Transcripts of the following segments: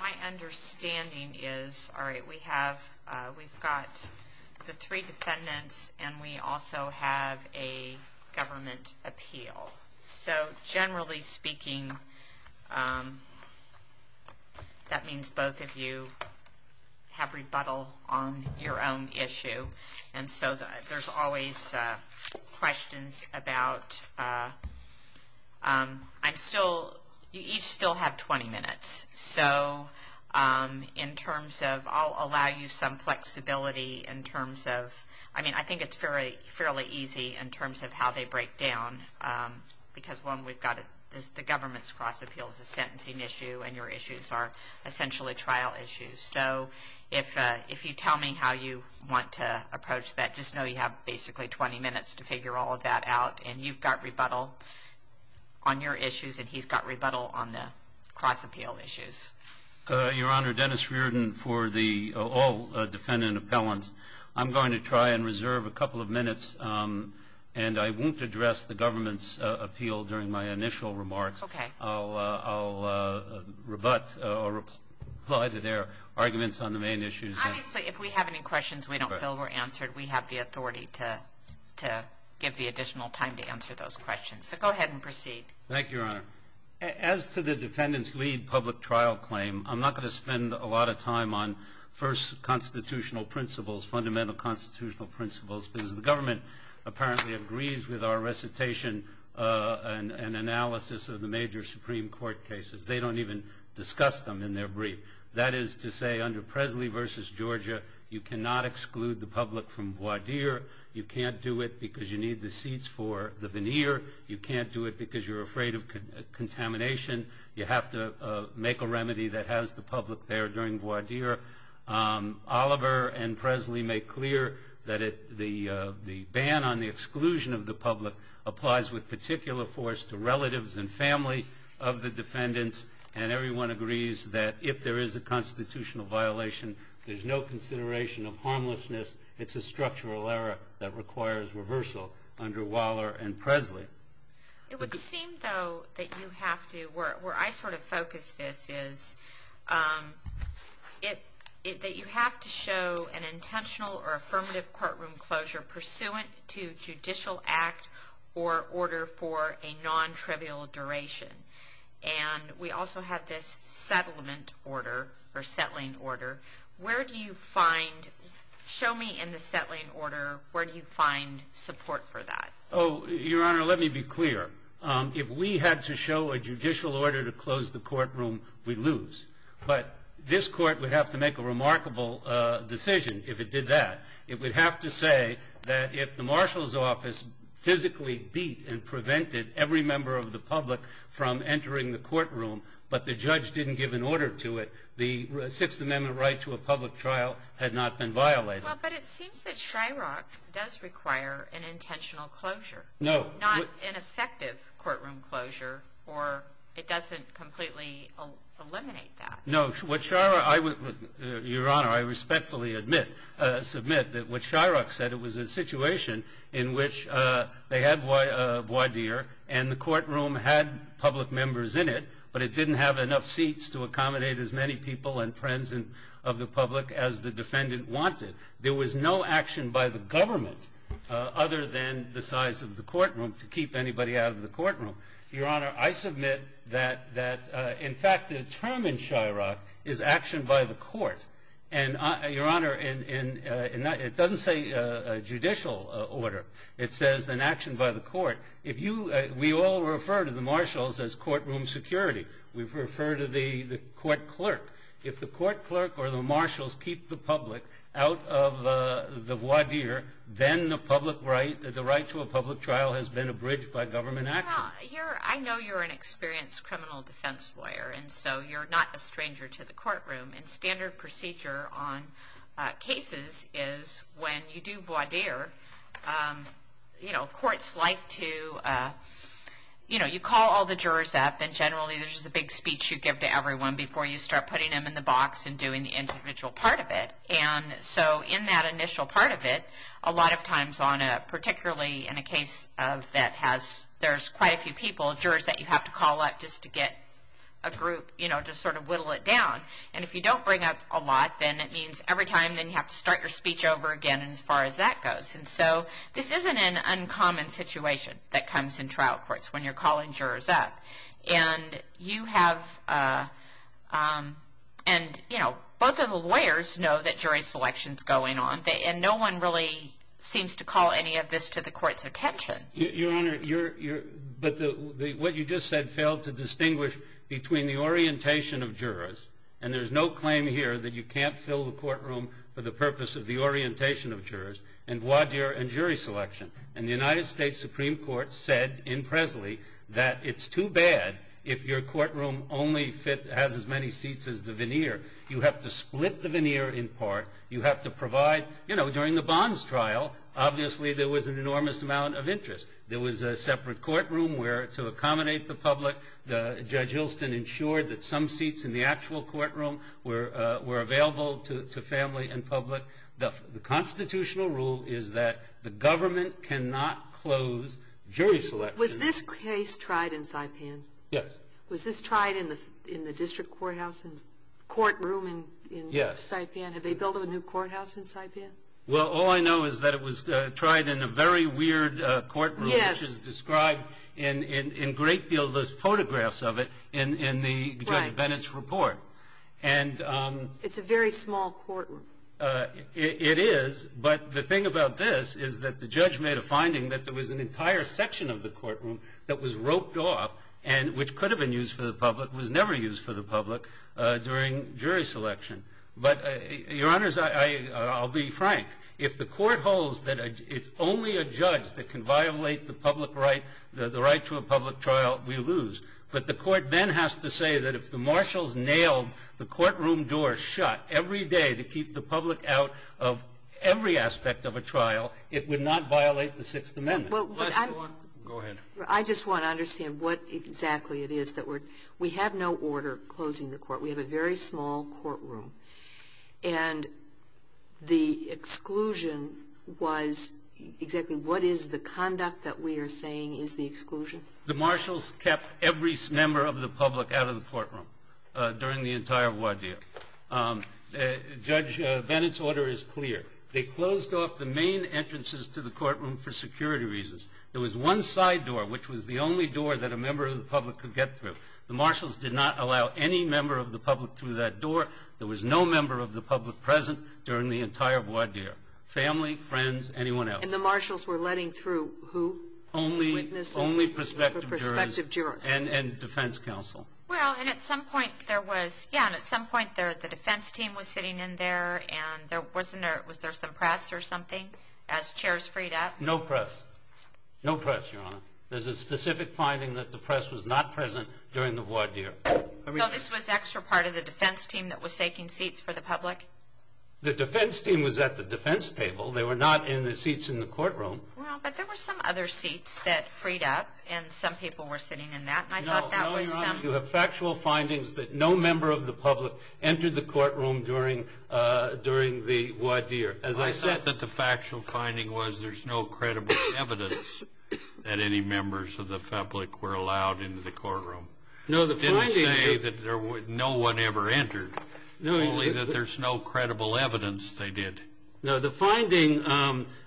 My understanding is we've got the three defendants and we also have a government appeal. So generally speaking, that means both of you have rebuttal on your own issue. And so there's always questions about – I'm still – you each still have 20 minutes. So in terms of – I'll allow you some flexibility in terms of – I mean, I think it's fairly easy in terms of how they break down because, one, we've got – the government's cross appeal is a sentencing issue and your issues are essentially trial issues. So if you tell me how you want to approach that, just know you have basically 20 minutes to figure all of that out. And you've got rebuttal on your issues and he's got rebuttal on the cross appeal issues. Your Honor, Dennis Reardon for the – all defendant appellants. I'm going to try and reserve a couple of minutes, and I won't address the government's appeal during my initial remarks. Okay. I'll rebut or reply to their arguments on the main issues. Honestly, if we have any questions we don't feel were answered, we have the authority to give the additional time to answer those questions. So go ahead and proceed. Thank you, Your Honor. As to the defendant's lead public trial claim, I'm not going to spend a lot of time on first constitutional principles, fundamental constitutional principles, because the government apparently agrees with our recitation and analysis of the major Supreme Court cases. They don't even discuss them in their brief. That is to say, under Presley v. Georgia, you cannot exclude the public from voir dire. You can't do it because you need the seats for the veneer. You can't do it because you're afraid of contamination. You have to make a remedy that has the public there during voir dire. Oliver and Presley make clear that the ban on the exclusion of the public applies with particular force to relatives and families of the defendants, and everyone agrees that if there is a constitutional violation, there's no consideration of harmlessness. It's a structural error that requires reversal under Waller and Presley. It would seem, though, that you have to, where I sort of focus this, is that you have to show an intentional or affirmative courtroom closure pursuant to judicial act or order for a nontrivial duration. And we also have this settlement order or settling order. Where do you find, show me in the settling order, where do you find support for that? Oh, Your Honor, let me be clear. If we had to show a judicial order to close the courtroom, we'd lose. But this court would have to make a remarkable decision if it did that. It would have to say that if the marshal's office physically beat and prevented every member of the public from entering the courtroom, but the judge didn't give an order to it, the Sixth Amendment right to a public trial had not been violated. Well, but it seems that Shyrock does require an intentional closure. No. Not an effective courtroom closure, or it doesn't completely eliminate that. No. Your Honor, I respectfully submit that what Shyrock said, it was a situation in which they had voir dire and the courtroom had public members in it, but it didn't have enough seats to accommodate as many people and friends of the public as the defendant wanted. There was no action by the government other than the size of the courtroom to keep anybody out of the courtroom. Your Honor, I submit that, in fact, the term in Shyrock is action by the court. And, Your Honor, it doesn't say judicial order. It says an action by the court. We all refer to the marshals as courtroom security. We refer to the court clerk. If the court clerk or the marshals keep the public out of the voir dire, then the right to a public trial has been abridged by government action. Your Honor, I know you're an experienced criminal defense lawyer, and so you're not a stranger to the courtroom. And standard procedure on cases is when you do voir dire, you know, courts like to, you know, you call all the jurors up and generally there's a big speech you give to everyone before you start putting them in the box and doing the individual part of it. And so in that initial part of it, a lot of times on a, particularly in a case that has, there's quite a few people, jurors that you have to call up just to get a group, you know, to sort of whittle it down. And if you don't bring up a lot, then it means every time then you have to start your speech over again as far as that goes. And so this isn't an uncommon situation that comes in trial courts when you're calling jurors up. And you have, and, you know, both of the lawyers know that jury selection is going on, and no one really seems to call any of this to the court's attention. Your Honor, but what you just said failed to distinguish between the orientation of jurors, and there's no claim here that you can't fill the courtroom for the purpose of the orientation of jurors, and voir dire and jury selection. And the United States Supreme Court said in Presley that it's too bad if your courtroom only has as many seats as the veneer. You have to split the veneer in part. You have to provide, you know, during the Bonds trial, obviously there was an enormous amount of interest. There was a separate courtroom where to accommodate the public, Judge Hylston ensured that some seats in the actual courtroom were available to family and public. The constitutional rule is that the government cannot close jury selection. Was this case tried in Saipan? Yes. Was this tried in the district courthouse and courtroom in Saipan? Yes. And have they built a new courthouse in Saipan? Well, all I know is that it was tried in a very weird courtroom. Yes. Which is described in a great deal of those photographs of it in the Judge Bennett's report. It's a very small courtroom. It is, but the thing about this is that the judge made a finding that there was an entire section of the courtroom that was roped off, which could have been used for the public, was never used for the public during jury selection. But, Your Honors, I'll be frank. If the court holds that it's only a judge that can violate the public right, the right to a public trial, we lose. But the court then has to say that if the marshals nailed the courtroom door shut every day to keep the public out of every aspect of a trial, it would not violate the Sixth Amendment. Well, but I'm go ahead. I just want to understand what exactly it is that we're we have no order closing the court. We have a very small courtroom. And the exclusion was exactly what is the conduct that we are saying is the exclusion? The marshals kept every member of the public out of the courtroom during the entire war deal. Judge Bennett's order is clear. They closed off the main entrances to the courtroom for security reasons. There was one side door, which was the only door that a member of the public could get through. The marshals did not allow any member of the public through that door. There was no member of the public present during the entire war deal. Family, friends, anyone else. And the marshals were letting through who? Only prospective jurors and defense counsel. Well, and at some point there was, yeah, and at some point the defense team was sitting in there, and there wasn't a, was there some press or something as chairs freed up? No press. No press, Your Honor. There's a specific finding that the press was not present during the war deal. No, this was extra part of the defense team that was taking seats for the public? The defense team was at the defense table. They were not in the seats in the courtroom. Well, but there were some other seats that freed up, and some people were sitting in that. No, Your Honor, you have factual findings that no member of the public entered the courtroom during the war deal. I thought that the factual finding was there's no credible evidence that any members of the public were allowed into the courtroom. No, the finding. Didn't they say that no one ever entered, only that there's no credible evidence they did. No, the finding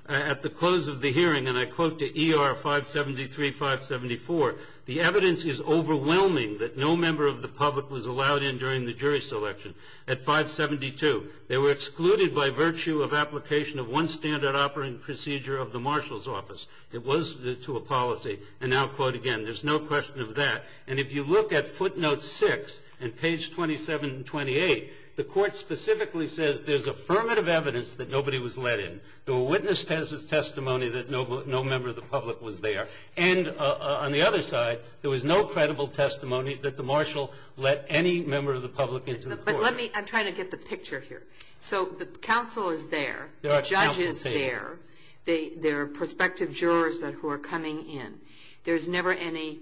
at the close of the hearing, and I quote to ER 573, 574, the evidence is overwhelming that no member of the public was allowed in during the jury selection. At 572, they were excluded by virtue of application of one standard operating procedure of the marshal's office. It was to a policy. And now, quote again, there's no question of that. And if you look at footnote 6 and page 27 and 28, the court specifically says there's affirmative evidence that nobody was let in. There were witness testimony that no member of the public was there. And on the other side, there was no credible testimony that the marshal let any member of the public into the courtroom. I'm trying to get the picture here. So the counsel is there. The judge is there. There are prospective jurors who are coming in. There was never any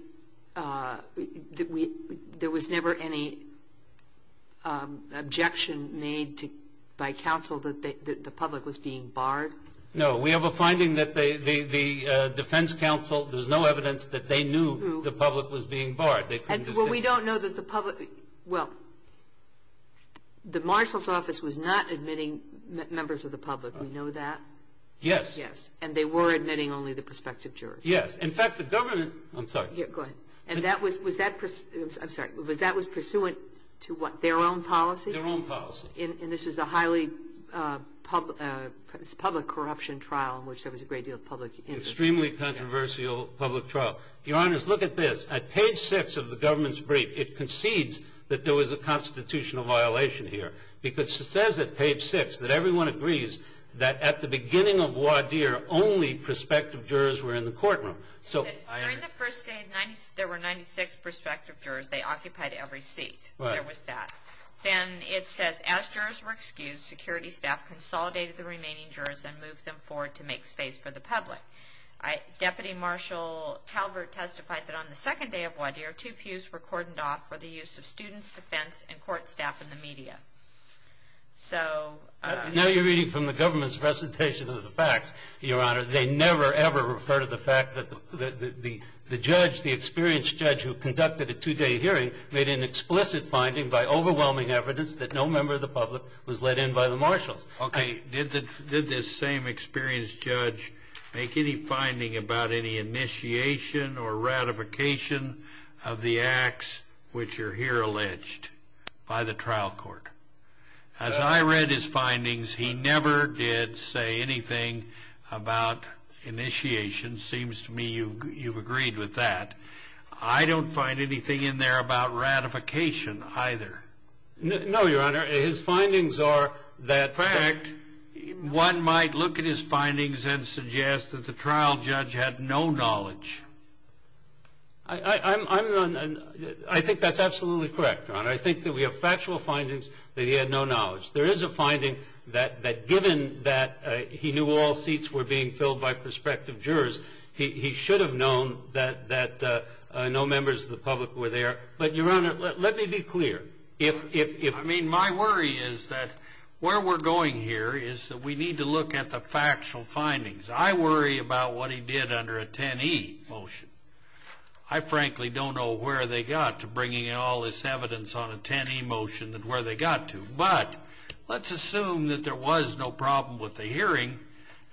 objection made by counsel that the public was being barred? No. We have a finding that the defense counsel, there was no evidence that they knew the public was being barred. Well, we don't know that the public – well, the marshal's office was not admitting members of the public. We know that. Yes. Yes. And they were admitting only the prospective jurors. Yes. In fact, the government – I'm sorry. Go ahead. And that was – was that – I'm sorry. Was that was pursuant to what, their own policy? Their own policy. And this was a highly public corruption trial in which there was a great deal of public interest. Extremely controversial public trial. Your Honors, look at this. At page six of the government's brief, it concedes that there was a constitutional violation here. Because it says at page six that everyone agrees that at the beginning of Wadir, only prospective jurors were in the courtroom. During the first day, there were 96 prospective jurors. They occupied every seat. Right. There was that. Then it says, as jurors were excused, security staff consolidated the remaining jurors and moved them forward to make space for the public. Deputy Marshal Calvert testified that on the second day of Wadir, two pews were cordoned off for the use of students, defense, and court staff in the media. So – Now you're reading from the government's presentation of the facts, Your Honor. They never, ever refer to the fact that the judge, the experienced judge who conducted a two-day hearing, made an explicit finding by overwhelming evidence that no member of the public was let in by the marshals. Okay. Did this same experienced judge make any finding about any initiation or ratification of the acts which are here alleged by the trial court? As I read his findings, he never did say anything about initiation. Seems to me you've agreed with that. I don't find anything in there about ratification either. No, Your Honor. His findings are that – In fact, one might look at his findings and suggest that the trial judge had no knowledge. I'm – I think that's absolutely correct, Your Honor. I think that we have factual findings that he had no knowledge. There is a finding that given that he knew all seats were being filled by prospective jurors, he should have known that no members of the public were there. But, Your Honor, let me be clear. If – I mean, my worry is that where we're going here is that we need to look at the factual findings. I worry about what he did under a 10e motion. I frankly don't know where they got to bringing in all this evidence on a 10e motion and where they got to. But let's assume that there was no problem with the hearing,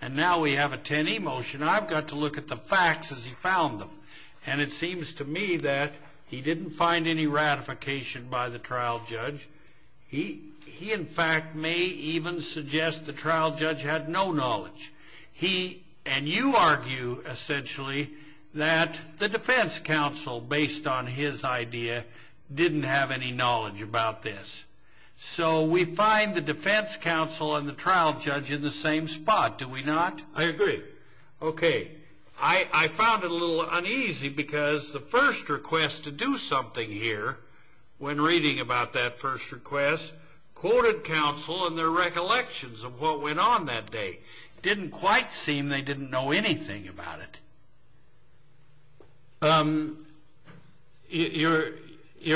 and now we have a 10e motion. I've got to look at the facts as he found them. And it seems to me that he didn't find any ratification by the trial judge. He, in fact, may even suggest the trial judge had no knowledge. He – and you argue, essentially, that the defense counsel, based on his idea, didn't have any knowledge about this. So we find the defense counsel and the trial judge in the same spot, do we not? I agree. Okay. I found it a little uneasy because the first request to do something here, when reading about that first request, quoted counsel in their recollections of what went on that day. It didn't quite seem they didn't know anything about it. Your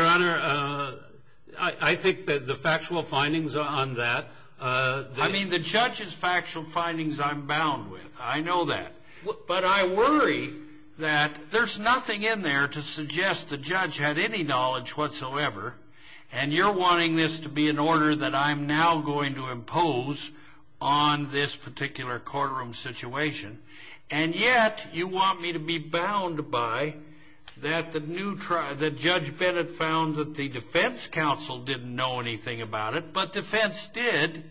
Honor, I think that the factual findings on that – I mean, the judge's factual findings I'm bound with. I know that. But I worry that there's nothing in there to suggest the judge had any knowledge whatsoever, and you're wanting this to be an order that I'm now going to impose on this particular courtroom situation. And yet you want me to be bound by that the judge Bennett found that the defense counsel didn't know anything about it, but defense did.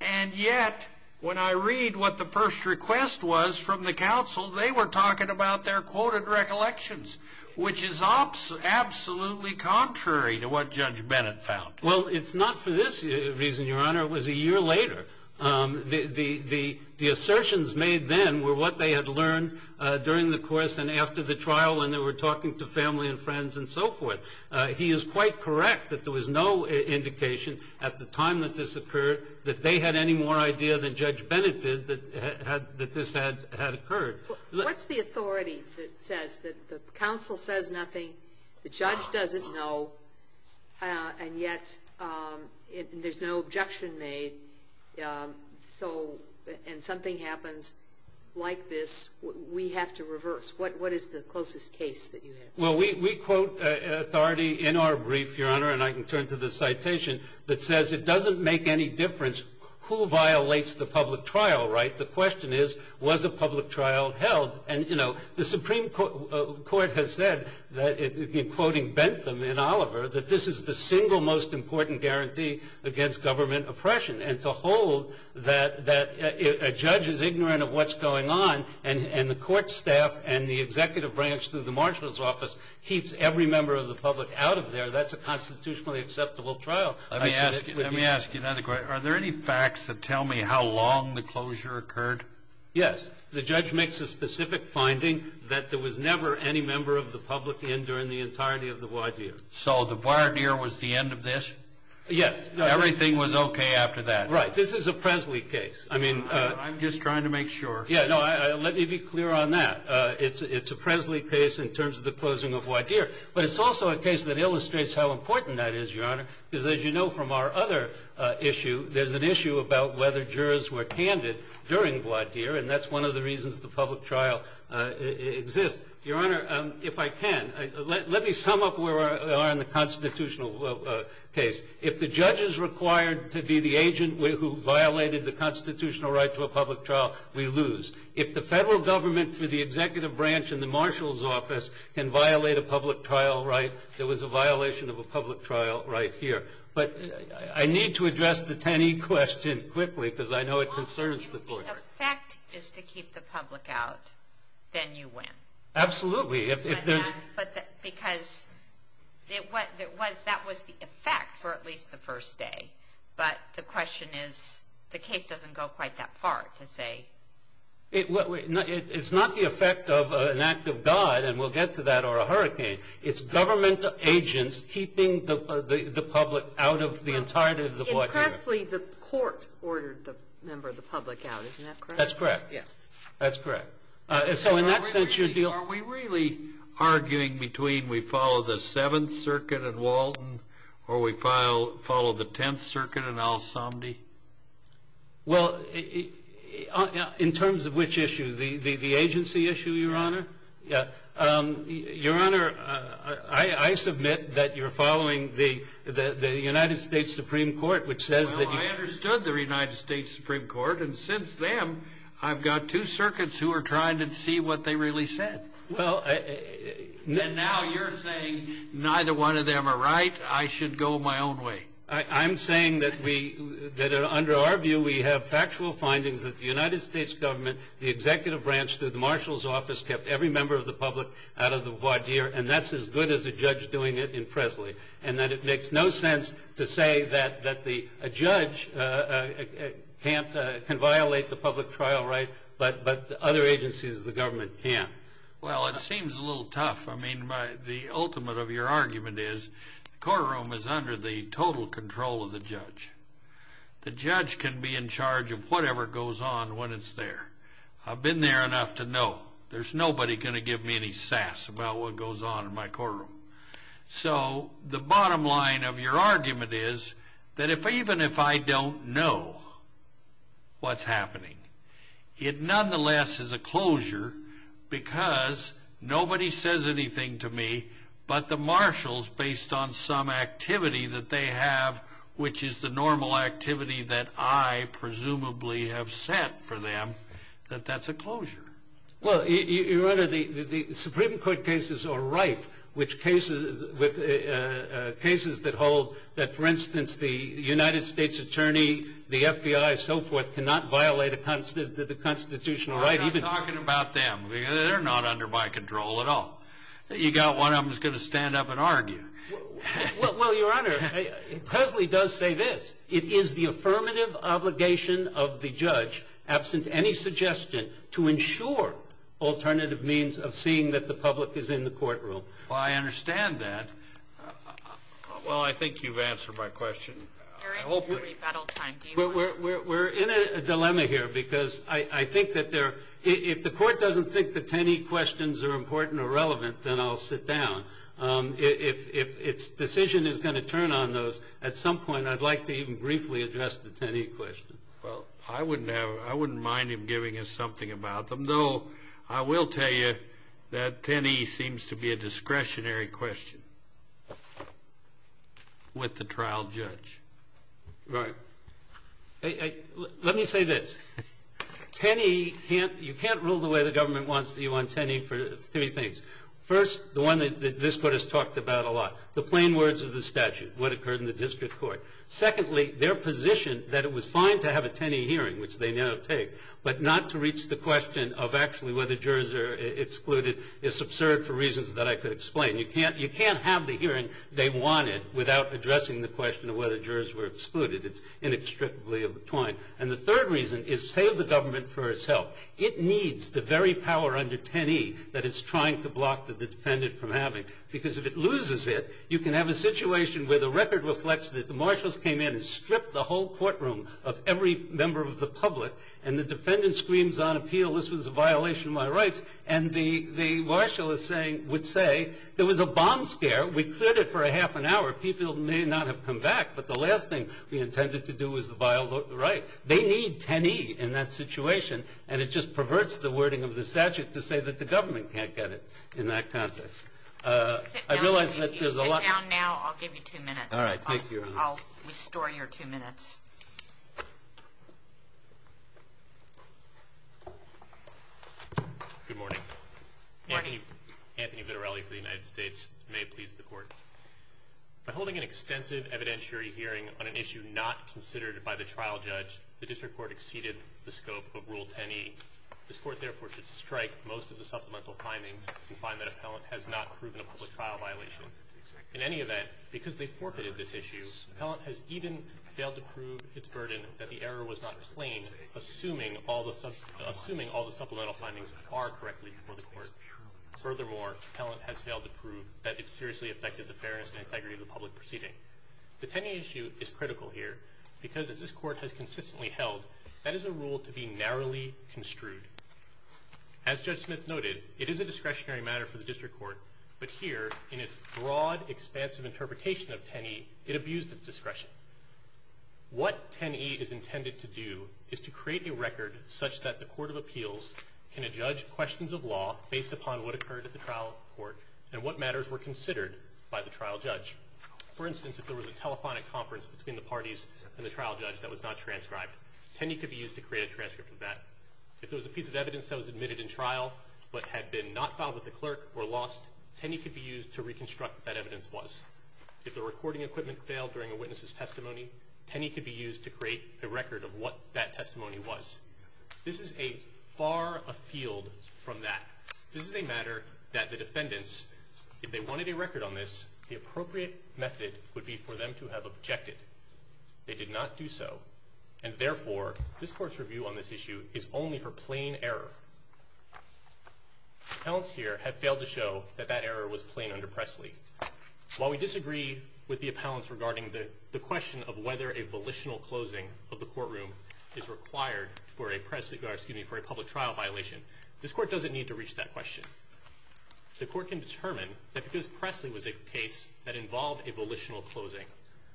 And yet, when I read what the first request was from the counsel, they were talking about their quoted recollections, which is absolutely contrary to what Judge Bennett found. Well, it's not for this reason, Your Honor. It was a year later. The assertions made then were what they had learned during the course and after the trial when they were talking to family and friends and so forth. He is quite correct that there was no indication at the time that this occurred that they had any more idea than Judge Bennett did that this had occurred. What's the authority that says that the counsel says nothing, the judge doesn't know, and yet there's no objection made, and something happens like this, we have to reverse? What is the closest case that you have? Well, we quote authority in our brief, Your Honor, and I can turn to the citation, that says it doesn't make any difference who violates the public trial, right? The question is, was a public trial held? And, you know, the Supreme Court has said, in quoting Bentham and Oliver, that this is the single most important guarantee against government oppression. And to hold that a judge is ignorant of what's going on and the court staff and the executive branch through the marshal's office keeps every member of the public out of there, that's a constitutionally acceptable trial. Let me ask you another question. Are there any facts that tell me how long the closure occurred? Yes. The judge makes a specific finding that there was never any member of the public in during the entirety of the voir dire. So the voir dire was the end of this? Yes. Everything was okay after that? Right. This is a Presley case. I'm just trying to make sure. Yeah, no, let me be clear on that. It's a Presley case in terms of the closing of voir dire. But it's also a case that illustrates how important that is, Your Honor, because as you know from our other issue, there's an issue about whether jurors were candid during voir dire, and that's one of the reasons the public trial exists. Your Honor, if I can, let me sum up where we are in the constitutional case. If the judge is required to be the agent who violated the constitutional right to a public trial, we lose. If the federal government through the executive branch and the marshal's office can violate a public trial right, there was a violation of a public trial right here. But I need to address the Tenney question quickly because I know it concerns the court. If the effect is to keep the public out, then you win. Absolutely. But because that was the effect for at least the first day. But the question is the case doesn't go quite that far to say. It's not the effect of an act of God, and we'll get to that, or a hurricane. It's government agents keeping the public out of the entirety of the voir dire. In Presley, the court ordered the member of the public out. Isn't that correct? That's correct. Yes. That's correct. So in that sense, your deal. Are we really arguing between we follow the Seventh Circuit and Walton, or we follow the Tenth Circuit and Al-Somdy? Well, in terms of which issue? The agency issue, Your Honor? Yeah. Your Honor, I submit that you're following the United States Supreme Court, which says that you. Well, I understood the United States Supreme Court, and since then, I've got two circuits who are trying to see what they really said. Well, now you're saying neither one of them are right. I should go my own way. I'm saying that under our view, we have factual findings that the United States government, the executive branch through the marshal's office, kept every member of the public out of the voir dire, and that's as good as a judge doing it in Presley, and that it makes no sense to say that a judge can violate the public trial right, but other agencies of the government can't. Well, it seems a little tough. I mean, the ultimate of your argument is the courtroom is under the total control of the judge. The judge can be in charge of whatever goes on when it's there. I've been there enough to know. There's nobody going to give me any sass about what goes on in my courtroom. So the bottom line of your argument is that even if I don't know what's happening, it nonetheless is a closure because nobody says anything to me but the marshals, based on some activity that they have, which is the normal activity that I presumably have set for them, that that's a closure. Well, Your Honor, the Supreme Court cases are rife with cases that hold that, for instance, the United States attorney, the FBI, and so forth, cannot violate the constitutional right. I'm not talking about them. They're not under my control at all. You've got one of them who's going to stand up and argue. Well, Your Honor, Presley does say this. It is the affirmative obligation of the judge, absent any suggestion, to ensure alternative means of seeing that the public is in the courtroom. Well, I understand that. Well, I think you've answered my question. We're in a dilemma here because I think that if the court doesn't think that any questions are important or relevant, then I'll sit down. If its decision is going to turn on those, at some point I'd like to even briefly address the Tenney question. Well, I wouldn't mind him giving us something about them, though I will tell you that Tenney seems to be a discretionary question with the trial judge. Right. Let me say this. Tenney, you can't rule the way the government wants you on Tenney for three things. First, the one that this court has talked about a lot, the plain words of the statute, what occurred in the district court. Secondly, their position that it was fine to have a Tenney hearing, which they now take, but not to reach the question of actually whether jurors are excluded is absurd for reasons that I could explain. You can't have the hearing they wanted without addressing the question of whether jurors were excluded. It's inextricably entwined. And the third reason is save the government for itself. It needs the very power under Tenney that it's trying to block the defendant from having, because if it loses it, you can have a situation where the record reflects that the marshals came in and stripped the whole courtroom of every member of the public, and the defendant screams on appeal, this was a violation of my rights, and the marshal would say, there was a bomb scare. We cleared it for a half an hour. People may not have come back, but the last thing we intended to do was violate the right. They need Tenney in that situation, and it just perverts the wording of the statute to say that the government can't get it in that context. I realize that there's a lot. Sit down now. I'll give you two minutes. All right. Thank you, Your Honor. I'll restore your two minutes. Good morning. Good morning. Anthony Vitarelli for the United States. May it please the Court. By holding an extensive evidentiary hearing on an issue not considered by the trial judge, the District Court exceeded the scope of Rule 10e. This Court, therefore, should strike most of the supplemental findings and find that appellant has not proven a public trial violation. In any event, because they forfeited this issue, appellant has even failed to prove its burden that the error was not plain, assuming all the supplemental findings are correctly before the Court. Furthermore, appellant has failed to prove that it seriously affected the fairness and integrity of the public proceeding. The Tenney issue is critical here because, as this Court has consistently held, that is a rule to be narrowly construed. As Judge Smith noted, it is a discretionary matter for the District Court, but here, in its broad, expansive interpretation of 10e, it abused its discretion. What 10e is intended to do is to create a record such that the Court of Appeals can adjudge questions of law based upon what occurred at the trial court and what matters were considered by the trial judge. For instance, if there was a telephonic conference between the parties and the trial judge that was not transcribed, 10e could be used to create a transcript of that. If there was a piece of evidence that was admitted in trial but had been not filed with the clerk or lost, 10e could be used to reconstruct what that evidence was. If the recording equipment failed during a witness's testimony, 10e could be used to create a record of what that testimony was. This is a far afield from that. This is a matter that the defendants, if they wanted a record on this, the appropriate method would be for them to have objected. They did not do so, and therefore, this Court's review on this issue is only for plain error. The appellants here have failed to show that that error was plain under Presley. While we disagree with the appellants regarding the question of whether a volitional closing of the courtroom is required for a public trial violation, this Court doesn't need to reach that question. The Court can determine that because Presley was a case that involved a volitional closing,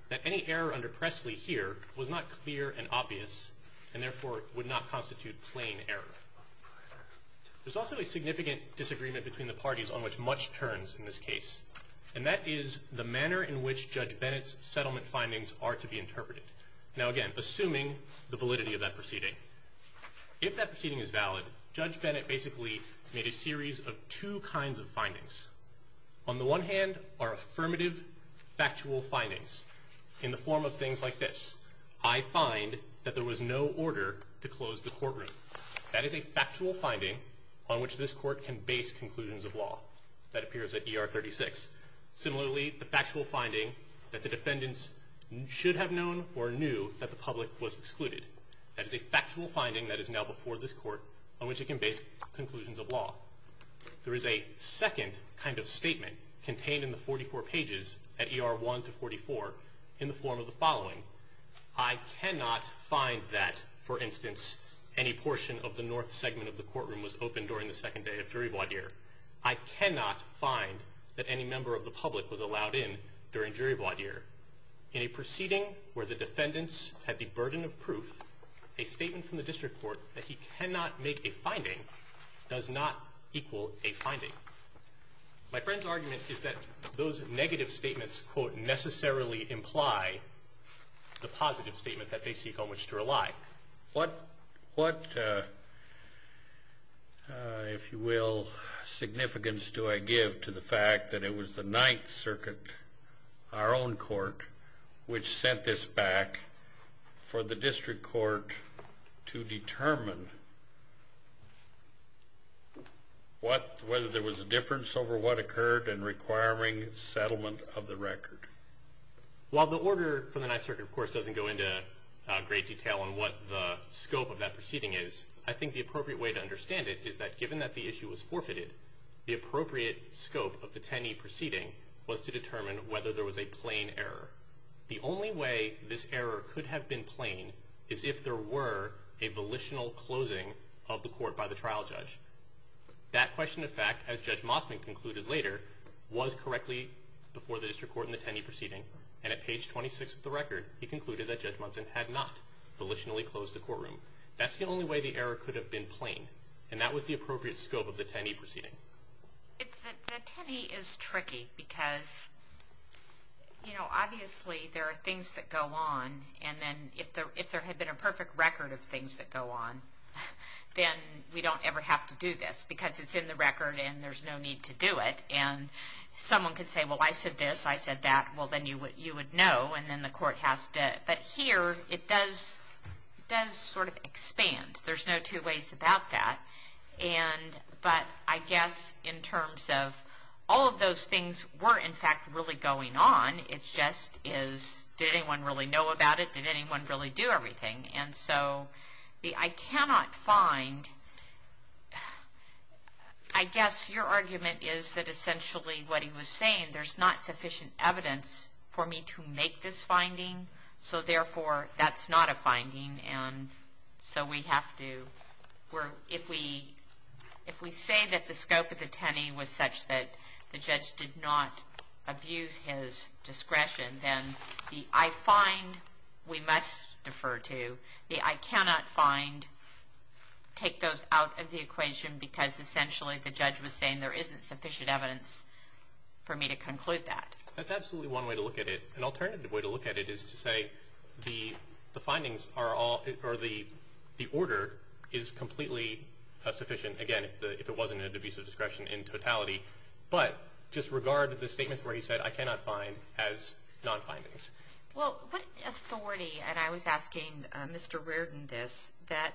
that any error under Presley here was not clear and obvious and therefore would not constitute plain error. There's also a significant disagreement between the parties on which much turns in this case, and that is the manner in which Judge Bennett's settlement findings are to be interpreted. Now, again, assuming the validity of that proceeding, if that proceeding is valid, Judge Bennett basically made a series of two kinds of findings. On the one hand are affirmative, factual findings in the form of things like this, I find that there was no order to close the courtroom. That is a factual finding on which this Court can base conclusions of law. That appears at ER 36. Similarly, the factual finding that the defendants should have known or knew that the public was excluded. That is a factual finding that is now before this Court on which it can base conclusions of law. There is a second kind of statement contained in the 44 pages at ER 1 to 44 in the form of the following, I cannot find that, for instance, any portion of the north segment of the courtroom was opened during the second day of jury voir dire. I cannot find that any member of the public was allowed in during jury voir dire. In a proceeding where the defendants had the burden of proof, a statement from the district court that he cannot make a finding does not equal a finding. My friend's argument is that those negative statements quote, necessarily imply the positive statement that they seek on which to rely. What, if you will, significance do I give to the fact that it was the Ninth Circuit, our own court, which sent this back for the district court to determine whether there was a difference over what occurred in requiring settlement of the record? Well, the order from the Ninth Circuit, of course, doesn't go into great detail on what the scope of that proceeding is. I think the appropriate way to understand it is that given that the issue was forfeited, the appropriate scope of the Tenney proceeding was to determine whether there was a plain error. The only way this error could have been plain is if there were a volitional closing of the court by the trial judge. That question of fact, as Judge Mossman concluded later, was correctly before the district court in the Tenney proceeding, and at page 26 of the record, he concluded that Judge Mossman had not volitionally closed the courtroom. That's the only way the error could have been plain, and that was the appropriate scope of the Tenney proceeding. The Tenney is tricky because, you know, obviously there are things that go on, and then if there had been a perfect record of things that go on, then we don't ever have to do this because it's in the record and there's no need to do it. And someone could say, well, I said this, I said that, well, then you would know, and then the court has to. But here it does sort of expand. There's no two ways about that. But I guess in terms of all of those things were in fact really going on, it just is did anyone really know about it, did anyone really do everything? And so I cannot find, I guess your argument is that essentially what he was saying, there's not sufficient evidence for me to make this finding, so therefore that's not a finding. And so we have to, if we say that the scope of the Tenney was such that the judge did not abuse his discretion, then the I find we must defer to, the I cannot find, take those out of the equation because essentially the judge was saying there isn't sufficient evidence for me to conclude that. That's absolutely one way to look at it. An alternative way to look at it is to say the findings are all, or the order is completely sufficient, again, if it wasn't an abuse of discretion in totality. But just regard the statements where he said I cannot find as non-findings. Well, what authority, and I was asking Mr. Reardon this, that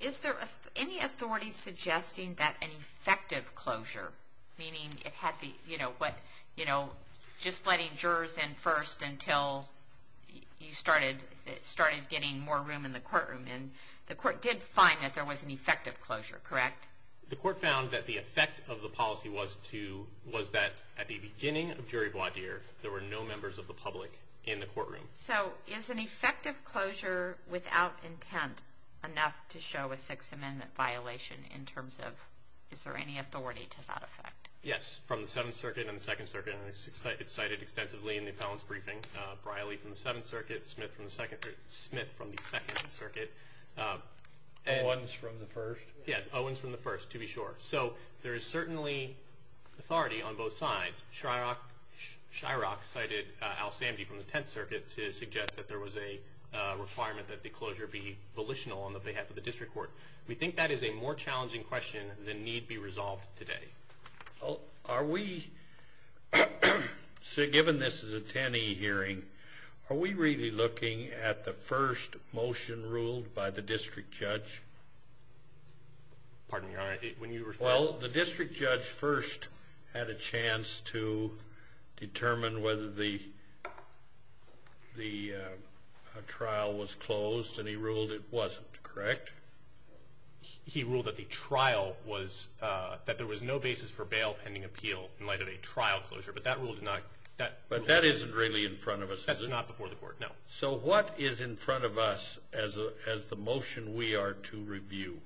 is there any authority suggesting that an effective closure, meaning it had the, you know, just letting jurors in first until you started getting more room in the courtroom, and the court did find that there was an effective closure, correct? The court found that the effect of the policy was to, was that at the beginning of jury voir dire, there were no members of the public in the courtroom. So is an effective closure without intent enough to show a Sixth Amendment violation in terms of, is there any authority to that effect? Yes, from the Seventh Circuit and the Second Circuit, and it's cited extensively in the appellant's briefing. Briley from the Seventh Circuit, Smith from the Second Circuit. Owens from the First? Yes, Owens from the First, to be sure. So there is certainly authority on both sides. Shryock cited Al-Samdi from the Tenth Circuit to suggest that there was a requirement that the closure be volitional on the behalf of the district court. We think that is a more challenging question than need be resolved today. Well, are we, given this is a TANI hearing, are we really looking at the first motion ruled by the district judge? Pardon me, Your Honor, when you were speaking? Well, the district judge first had a chance to determine whether the trial was closed, and he ruled it wasn't, correct? He ruled that there was no basis for bail pending appeal in light of a trial closure, but that rule did not. But that isn't really in front of us, is it? That's not before the court, no. So what is in front of us as the motion we are to review?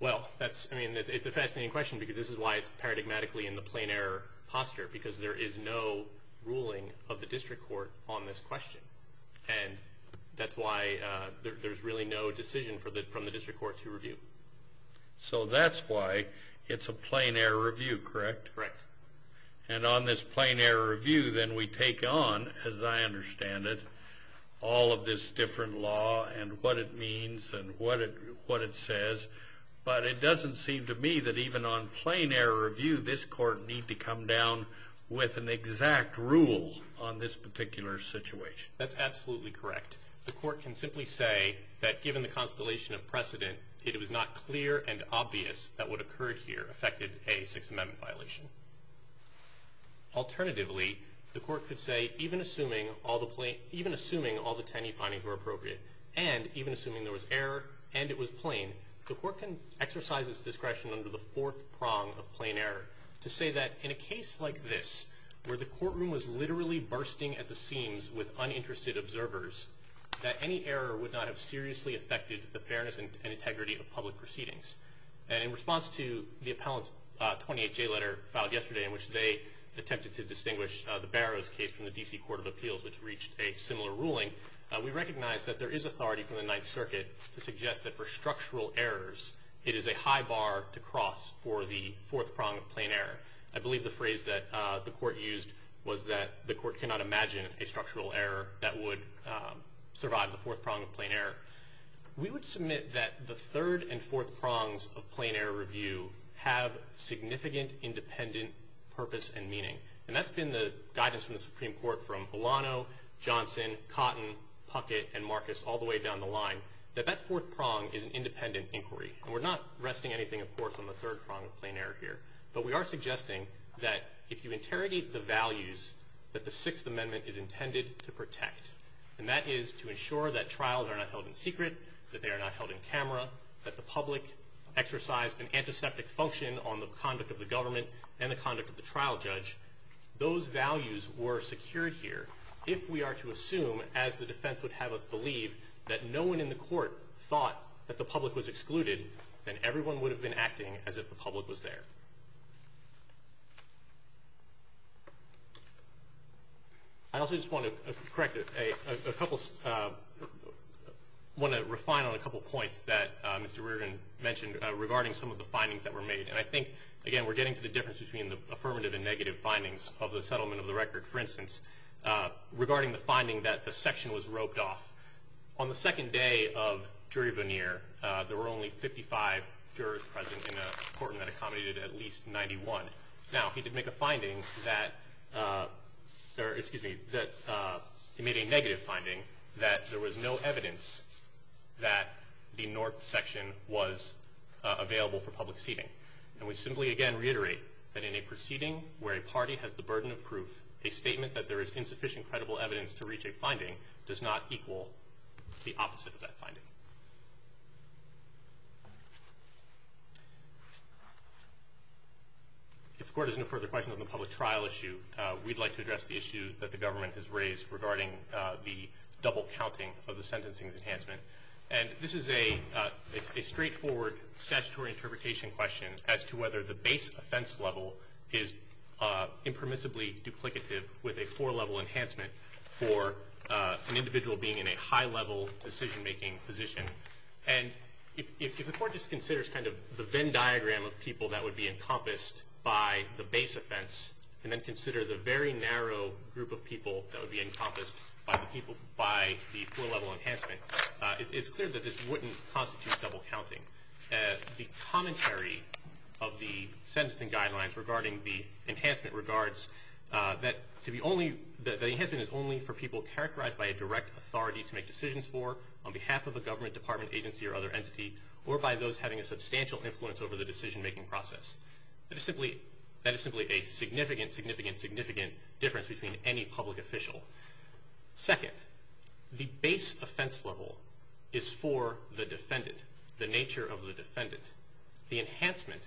Well, I mean, it's a fascinating question because this is why it's paradigmatically in the plain error posture, because there is no ruling of the district court on this question. And that's why there's really no decision from the district court to review. So that's why it's a plain error review, correct? Correct. And on this plain error review, then we take on, as I understand it, all of this different law and what it means and what it says, but it doesn't seem to me that even on plain error review, this court need to come down with an exact rule on this particular situation. That's absolutely correct. The court can simply say that given the constellation of precedent, it was not clear and obvious that what occurred here affected a Sixth Amendment violation. Alternatively, the court could say, even assuming all the 10E findings were appropriate and even assuming there was error and it was plain, the court can exercise its discretion under the fourth prong of plain error to say that in a case like this, where the courtroom was literally bursting at the seams with uninterested observers, that any error would not have seriously affected the fairness and integrity of public proceedings. And in response to the appellant's 28J letter filed yesterday in which they attempted to distinguish the Barrow's case from the D.C. Court of Appeals, which reached a similar ruling, we recognize that there is authority from the Ninth Circuit to suggest that for structural errors, it is a high bar to cross for the fourth prong of plain error. I believe the phrase that the court used was that the court cannot imagine a structural error that would survive the fourth prong of plain error. We would submit that the third and fourth prongs of plain error review have significant independent purpose and meaning. And that's been the guidance from the Supreme Court from Bolano, Johnson, Cotton, Puckett, and Marcus all the way down the line, that that fourth prong is an independent inquiry. And we're not resting anything, of course, on the third prong of plain error here. But we are suggesting that if you interrogate the values that the Sixth Amendment is intended to protect, and that is to ensure that trials are not held in secret, that they are not held in camera, that the public exercise an antiseptic function on the conduct of the government and the conduct of the trial judge, those values were secured here. If we are to assume, as the defense would have us believe, that no one in the court thought that the public was excluded, then everyone would have been acting as if the public was there. I also just want to correct a couple of – want to refine on a couple of points that Mr. Reardon mentioned regarding some of the findings that were made. And I think, again, we're getting to the difference between the affirmative and negative findings of the settlement of the record, for instance, regarding the finding that the section was roped off. On the second day of jury veneer, there were only 55 jurors present in a court and that accommodated at least 91. Now, he did make a finding that – or, excuse me, he made a negative finding that there was no evidence that the North section was available for public seating. And we simply, again, reiterate that in a proceeding where a party has the burden of proof, a statement that there is insufficient credible evidence to reach a finding does not equal the opposite of that finding. If the court has no further questions on the public trial issue, we'd like to address the issue that the government has raised regarding the double counting of the sentencing enhancement. And this is a straightforward statutory interpretation question as to whether the base offense level is impermissibly duplicative with a four-level enhancement for an individual being in a high-level decision-making position. And if the court just considers kind of the Venn diagram of people that would be encompassed by the base offense and then consider the very narrow group of people that would be encompassed by the four-level enhancement, it's clear that this wouldn't constitute double counting. The commentary of the sentencing guidelines regarding the enhancement regards that the enhancement is only for people characterized by a direct authority to make decisions for on behalf of a government, department, agency, or other entity, or by those having a substantial influence over the decision-making process. That is simply a significant, significant, significant difference between any public official. Second, the base offense level is for the defendant, the nature of the defendant. And the enhancement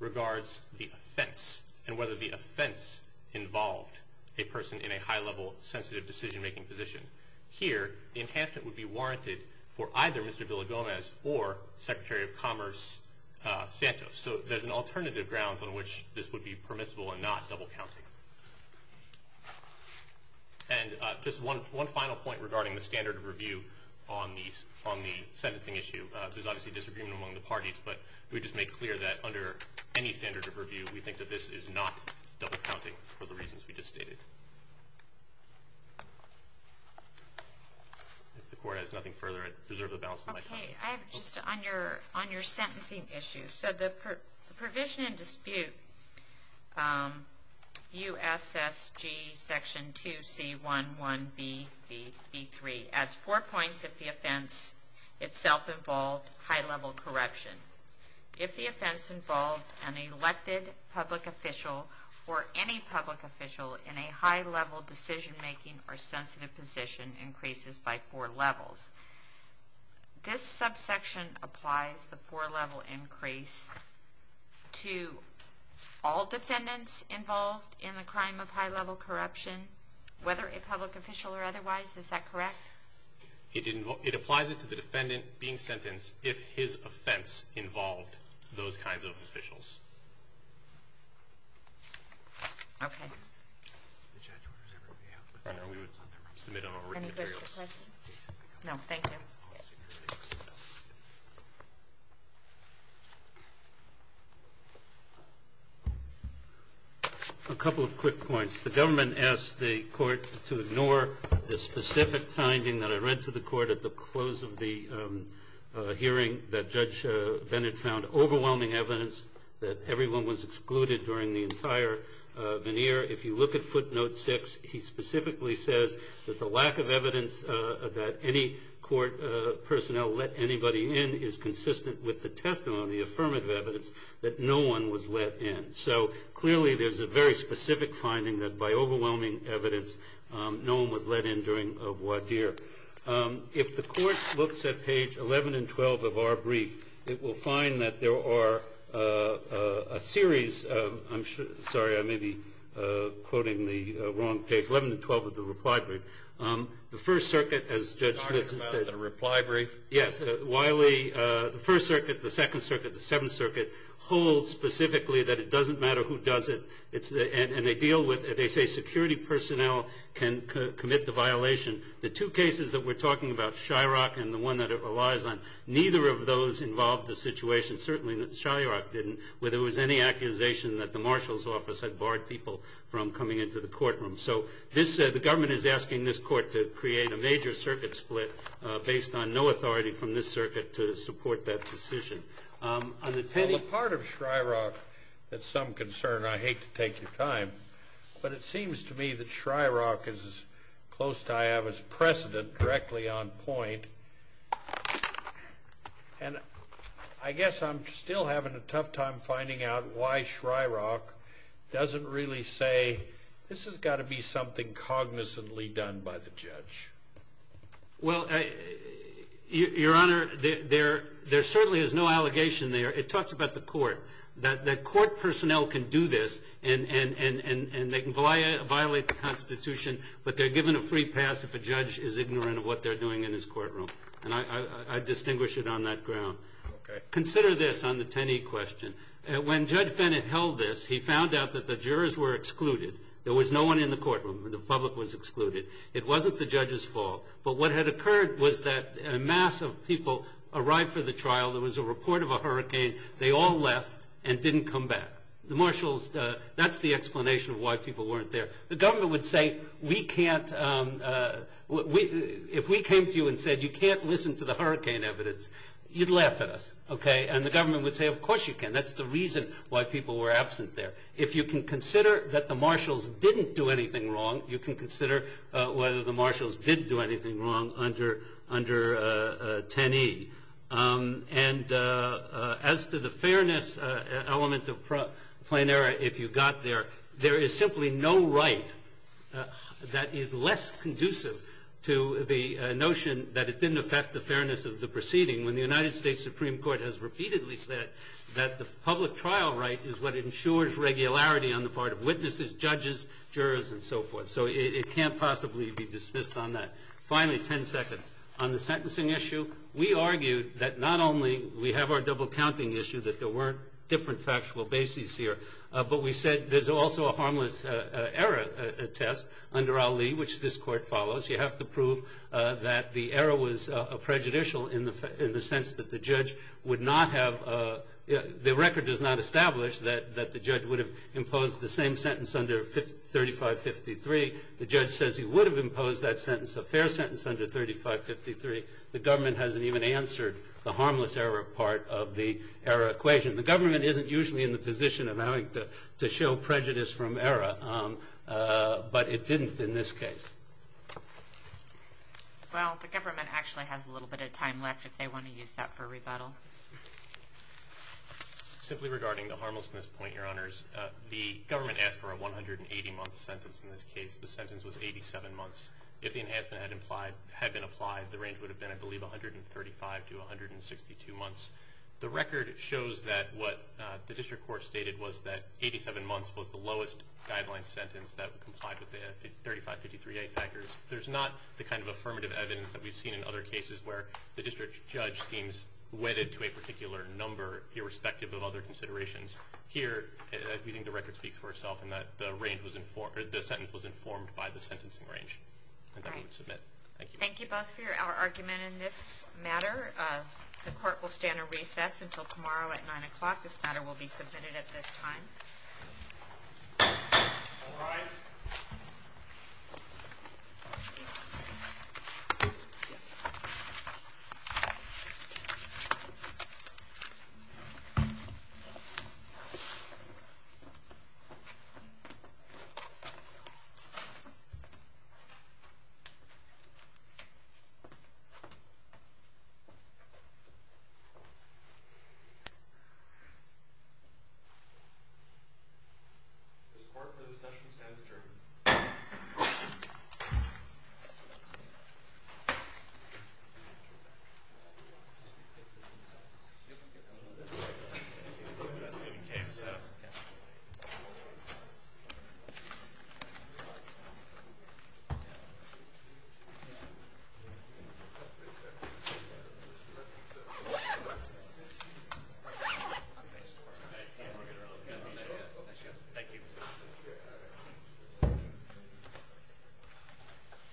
regards the offense and whether the offense involved a person in a high-level, sensitive decision-making position. Here, the enhancement would be warranted for either Mr. Villa-Gomez or Secretary of Commerce Santos. So there's an alternative grounds on which this would be permissible and not double counting. And just one final point regarding the standard of review on the sentencing issue. There's obviously disagreement among the parties, but we just make clear that under any standard of review, we think that this is not double counting for the reasons we just stated. If the Court has nothing further, I deserve the balance of my time. Okay. I have just on your sentencing issue. So the Provision and Dispute, U.S.S.G. Section 2C11BB3, adds four points if the offense itself involved high-level corruption. If the offense involved an elected public official or any public official in a high-level decision-making or sensitive position, increases by four levels. This subsection applies the four-level increase to all defendants involved in the crime of high-level corruption, whether a public official or otherwise. Is that correct? It applies it to the defendant being sentenced if his offense involved those kinds of officials. Okay. Any further questions? No. Thank you. A couple of quick points. The government asked the Court to ignore the specific finding that I read to the Court at the close of the hearing that Judge Bennett found overwhelming evidence that everyone was excluded during the entire veneer if you look at footnote 6, he specifically says that the lack of evidence that any court personnel let anybody in is consistent with the testimony, affirmative evidence, that no one was let in. So clearly there's a very specific finding that by overwhelming evidence, no one was let in during a voir dire. If the Court looks at page 11 and 12 of our brief, it will find that there are a series of I'm sorry, I may be quoting the wrong page, 11 to 12 of the reply brief. The First Circuit, as Judge Schmitz has said. You're talking about the reply brief? Yes. Wiley, the First Circuit, the Second Circuit, the Seventh Circuit, hold specifically that it doesn't matter who does it. And they deal with it. They say security personnel can commit the violation. The two cases that we're talking about, Shyrock and the one that it relies on, neither of those involved the situation. And certainly Shyrock didn't, where there was any accusation that the marshal's office had barred people from coming into the courtroom. So the government is asking this Court to create a major circuit split based on no authority from this circuit to support that decision. On the part of Shyrock that's some concern, I hate to take your time, but it seems to me that Shyrock is as close to I have as precedent directly on point. And I guess I'm still having a tough time finding out why Shyrock doesn't really say, this has got to be something cognizantly done by the judge. Well, Your Honor, there certainly is no allegation there. It talks about the Court, that Court personnel can do this and they can violate the Constitution, but they're given a free pass if a judge is ignorant of what they're doing in his courtroom. And I distinguish it on that ground. Consider this on the Tenney question. When Judge Bennett held this, he found out that the jurors were excluded. There was no one in the courtroom. The public was excluded. It wasn't the judge's fault. But what had occurred was that a mass of people arrived for the trial. There was a report of a hurricane. They all left and didn't come back. That's the explanation of why people weren't there. The government would say, if we came to you and said you can't listen to the hurricane evidence, you'd laugh at us. And the government would say, of course you can. That's the reason why people were absent there. If you can consider that the marshals didn't do anything wrong, you can consider whether the marshals did do anything wrong under Tenney. And as to the fairness element of plain error, if you got there, there is simply no right that is less conducive to the notion that it didn't affect the fairness of the proceeding when the United States Supreme Court has repeatedly said that the public trial right is what ensures regularity on the part of witnesses, judges, jurors, and so forth. So it can't possibly be dismissed on that. Finally, ten seconds. On the sentencing issue, we argued that not only we have our double-counting issue, that there were different factual bases here, but we said there's also a harmless error test under Ali, which this Court follows. You have to prove that the error was prejudicial in the sense that the judge would not have the record does not establish that the judge would have imposed the same sentence under 3553. The judge says he would have imposed that sentence, a fair sentence, under 3553. The government hasn't even answered the harmless error part of the error equation. The government isn't usually in the position of having to show prejudice from error, but it didn't in this case. Well, the government actually has a little bit of time left if they want to use that for rebuttal. Simply regarding the harmlessness point, Your Honors, the government asked for a 180-month sentence. In this case, the sentence was 87 months. If the enhancement had been applied, the range would have been, I believe, 135 to 162 months. The record shows that what the district court stated was that 87 months was the lowest guideline sentence that complied with the 3553A factors. There's not the kind of affirmative evidence that we've seen in other cases where the district judge seems wedded to a particular number irrespective of other considerations. Here, we think the record speaks for itself in that the sentence was informed by the sentencing range. And then we would submit. Thank you. Thank you both for your argument in this matter. The court will stand at recess until tomorrow at 9 o'clock. All rise. Thank you. The court for this session stands adjourned. Thank you.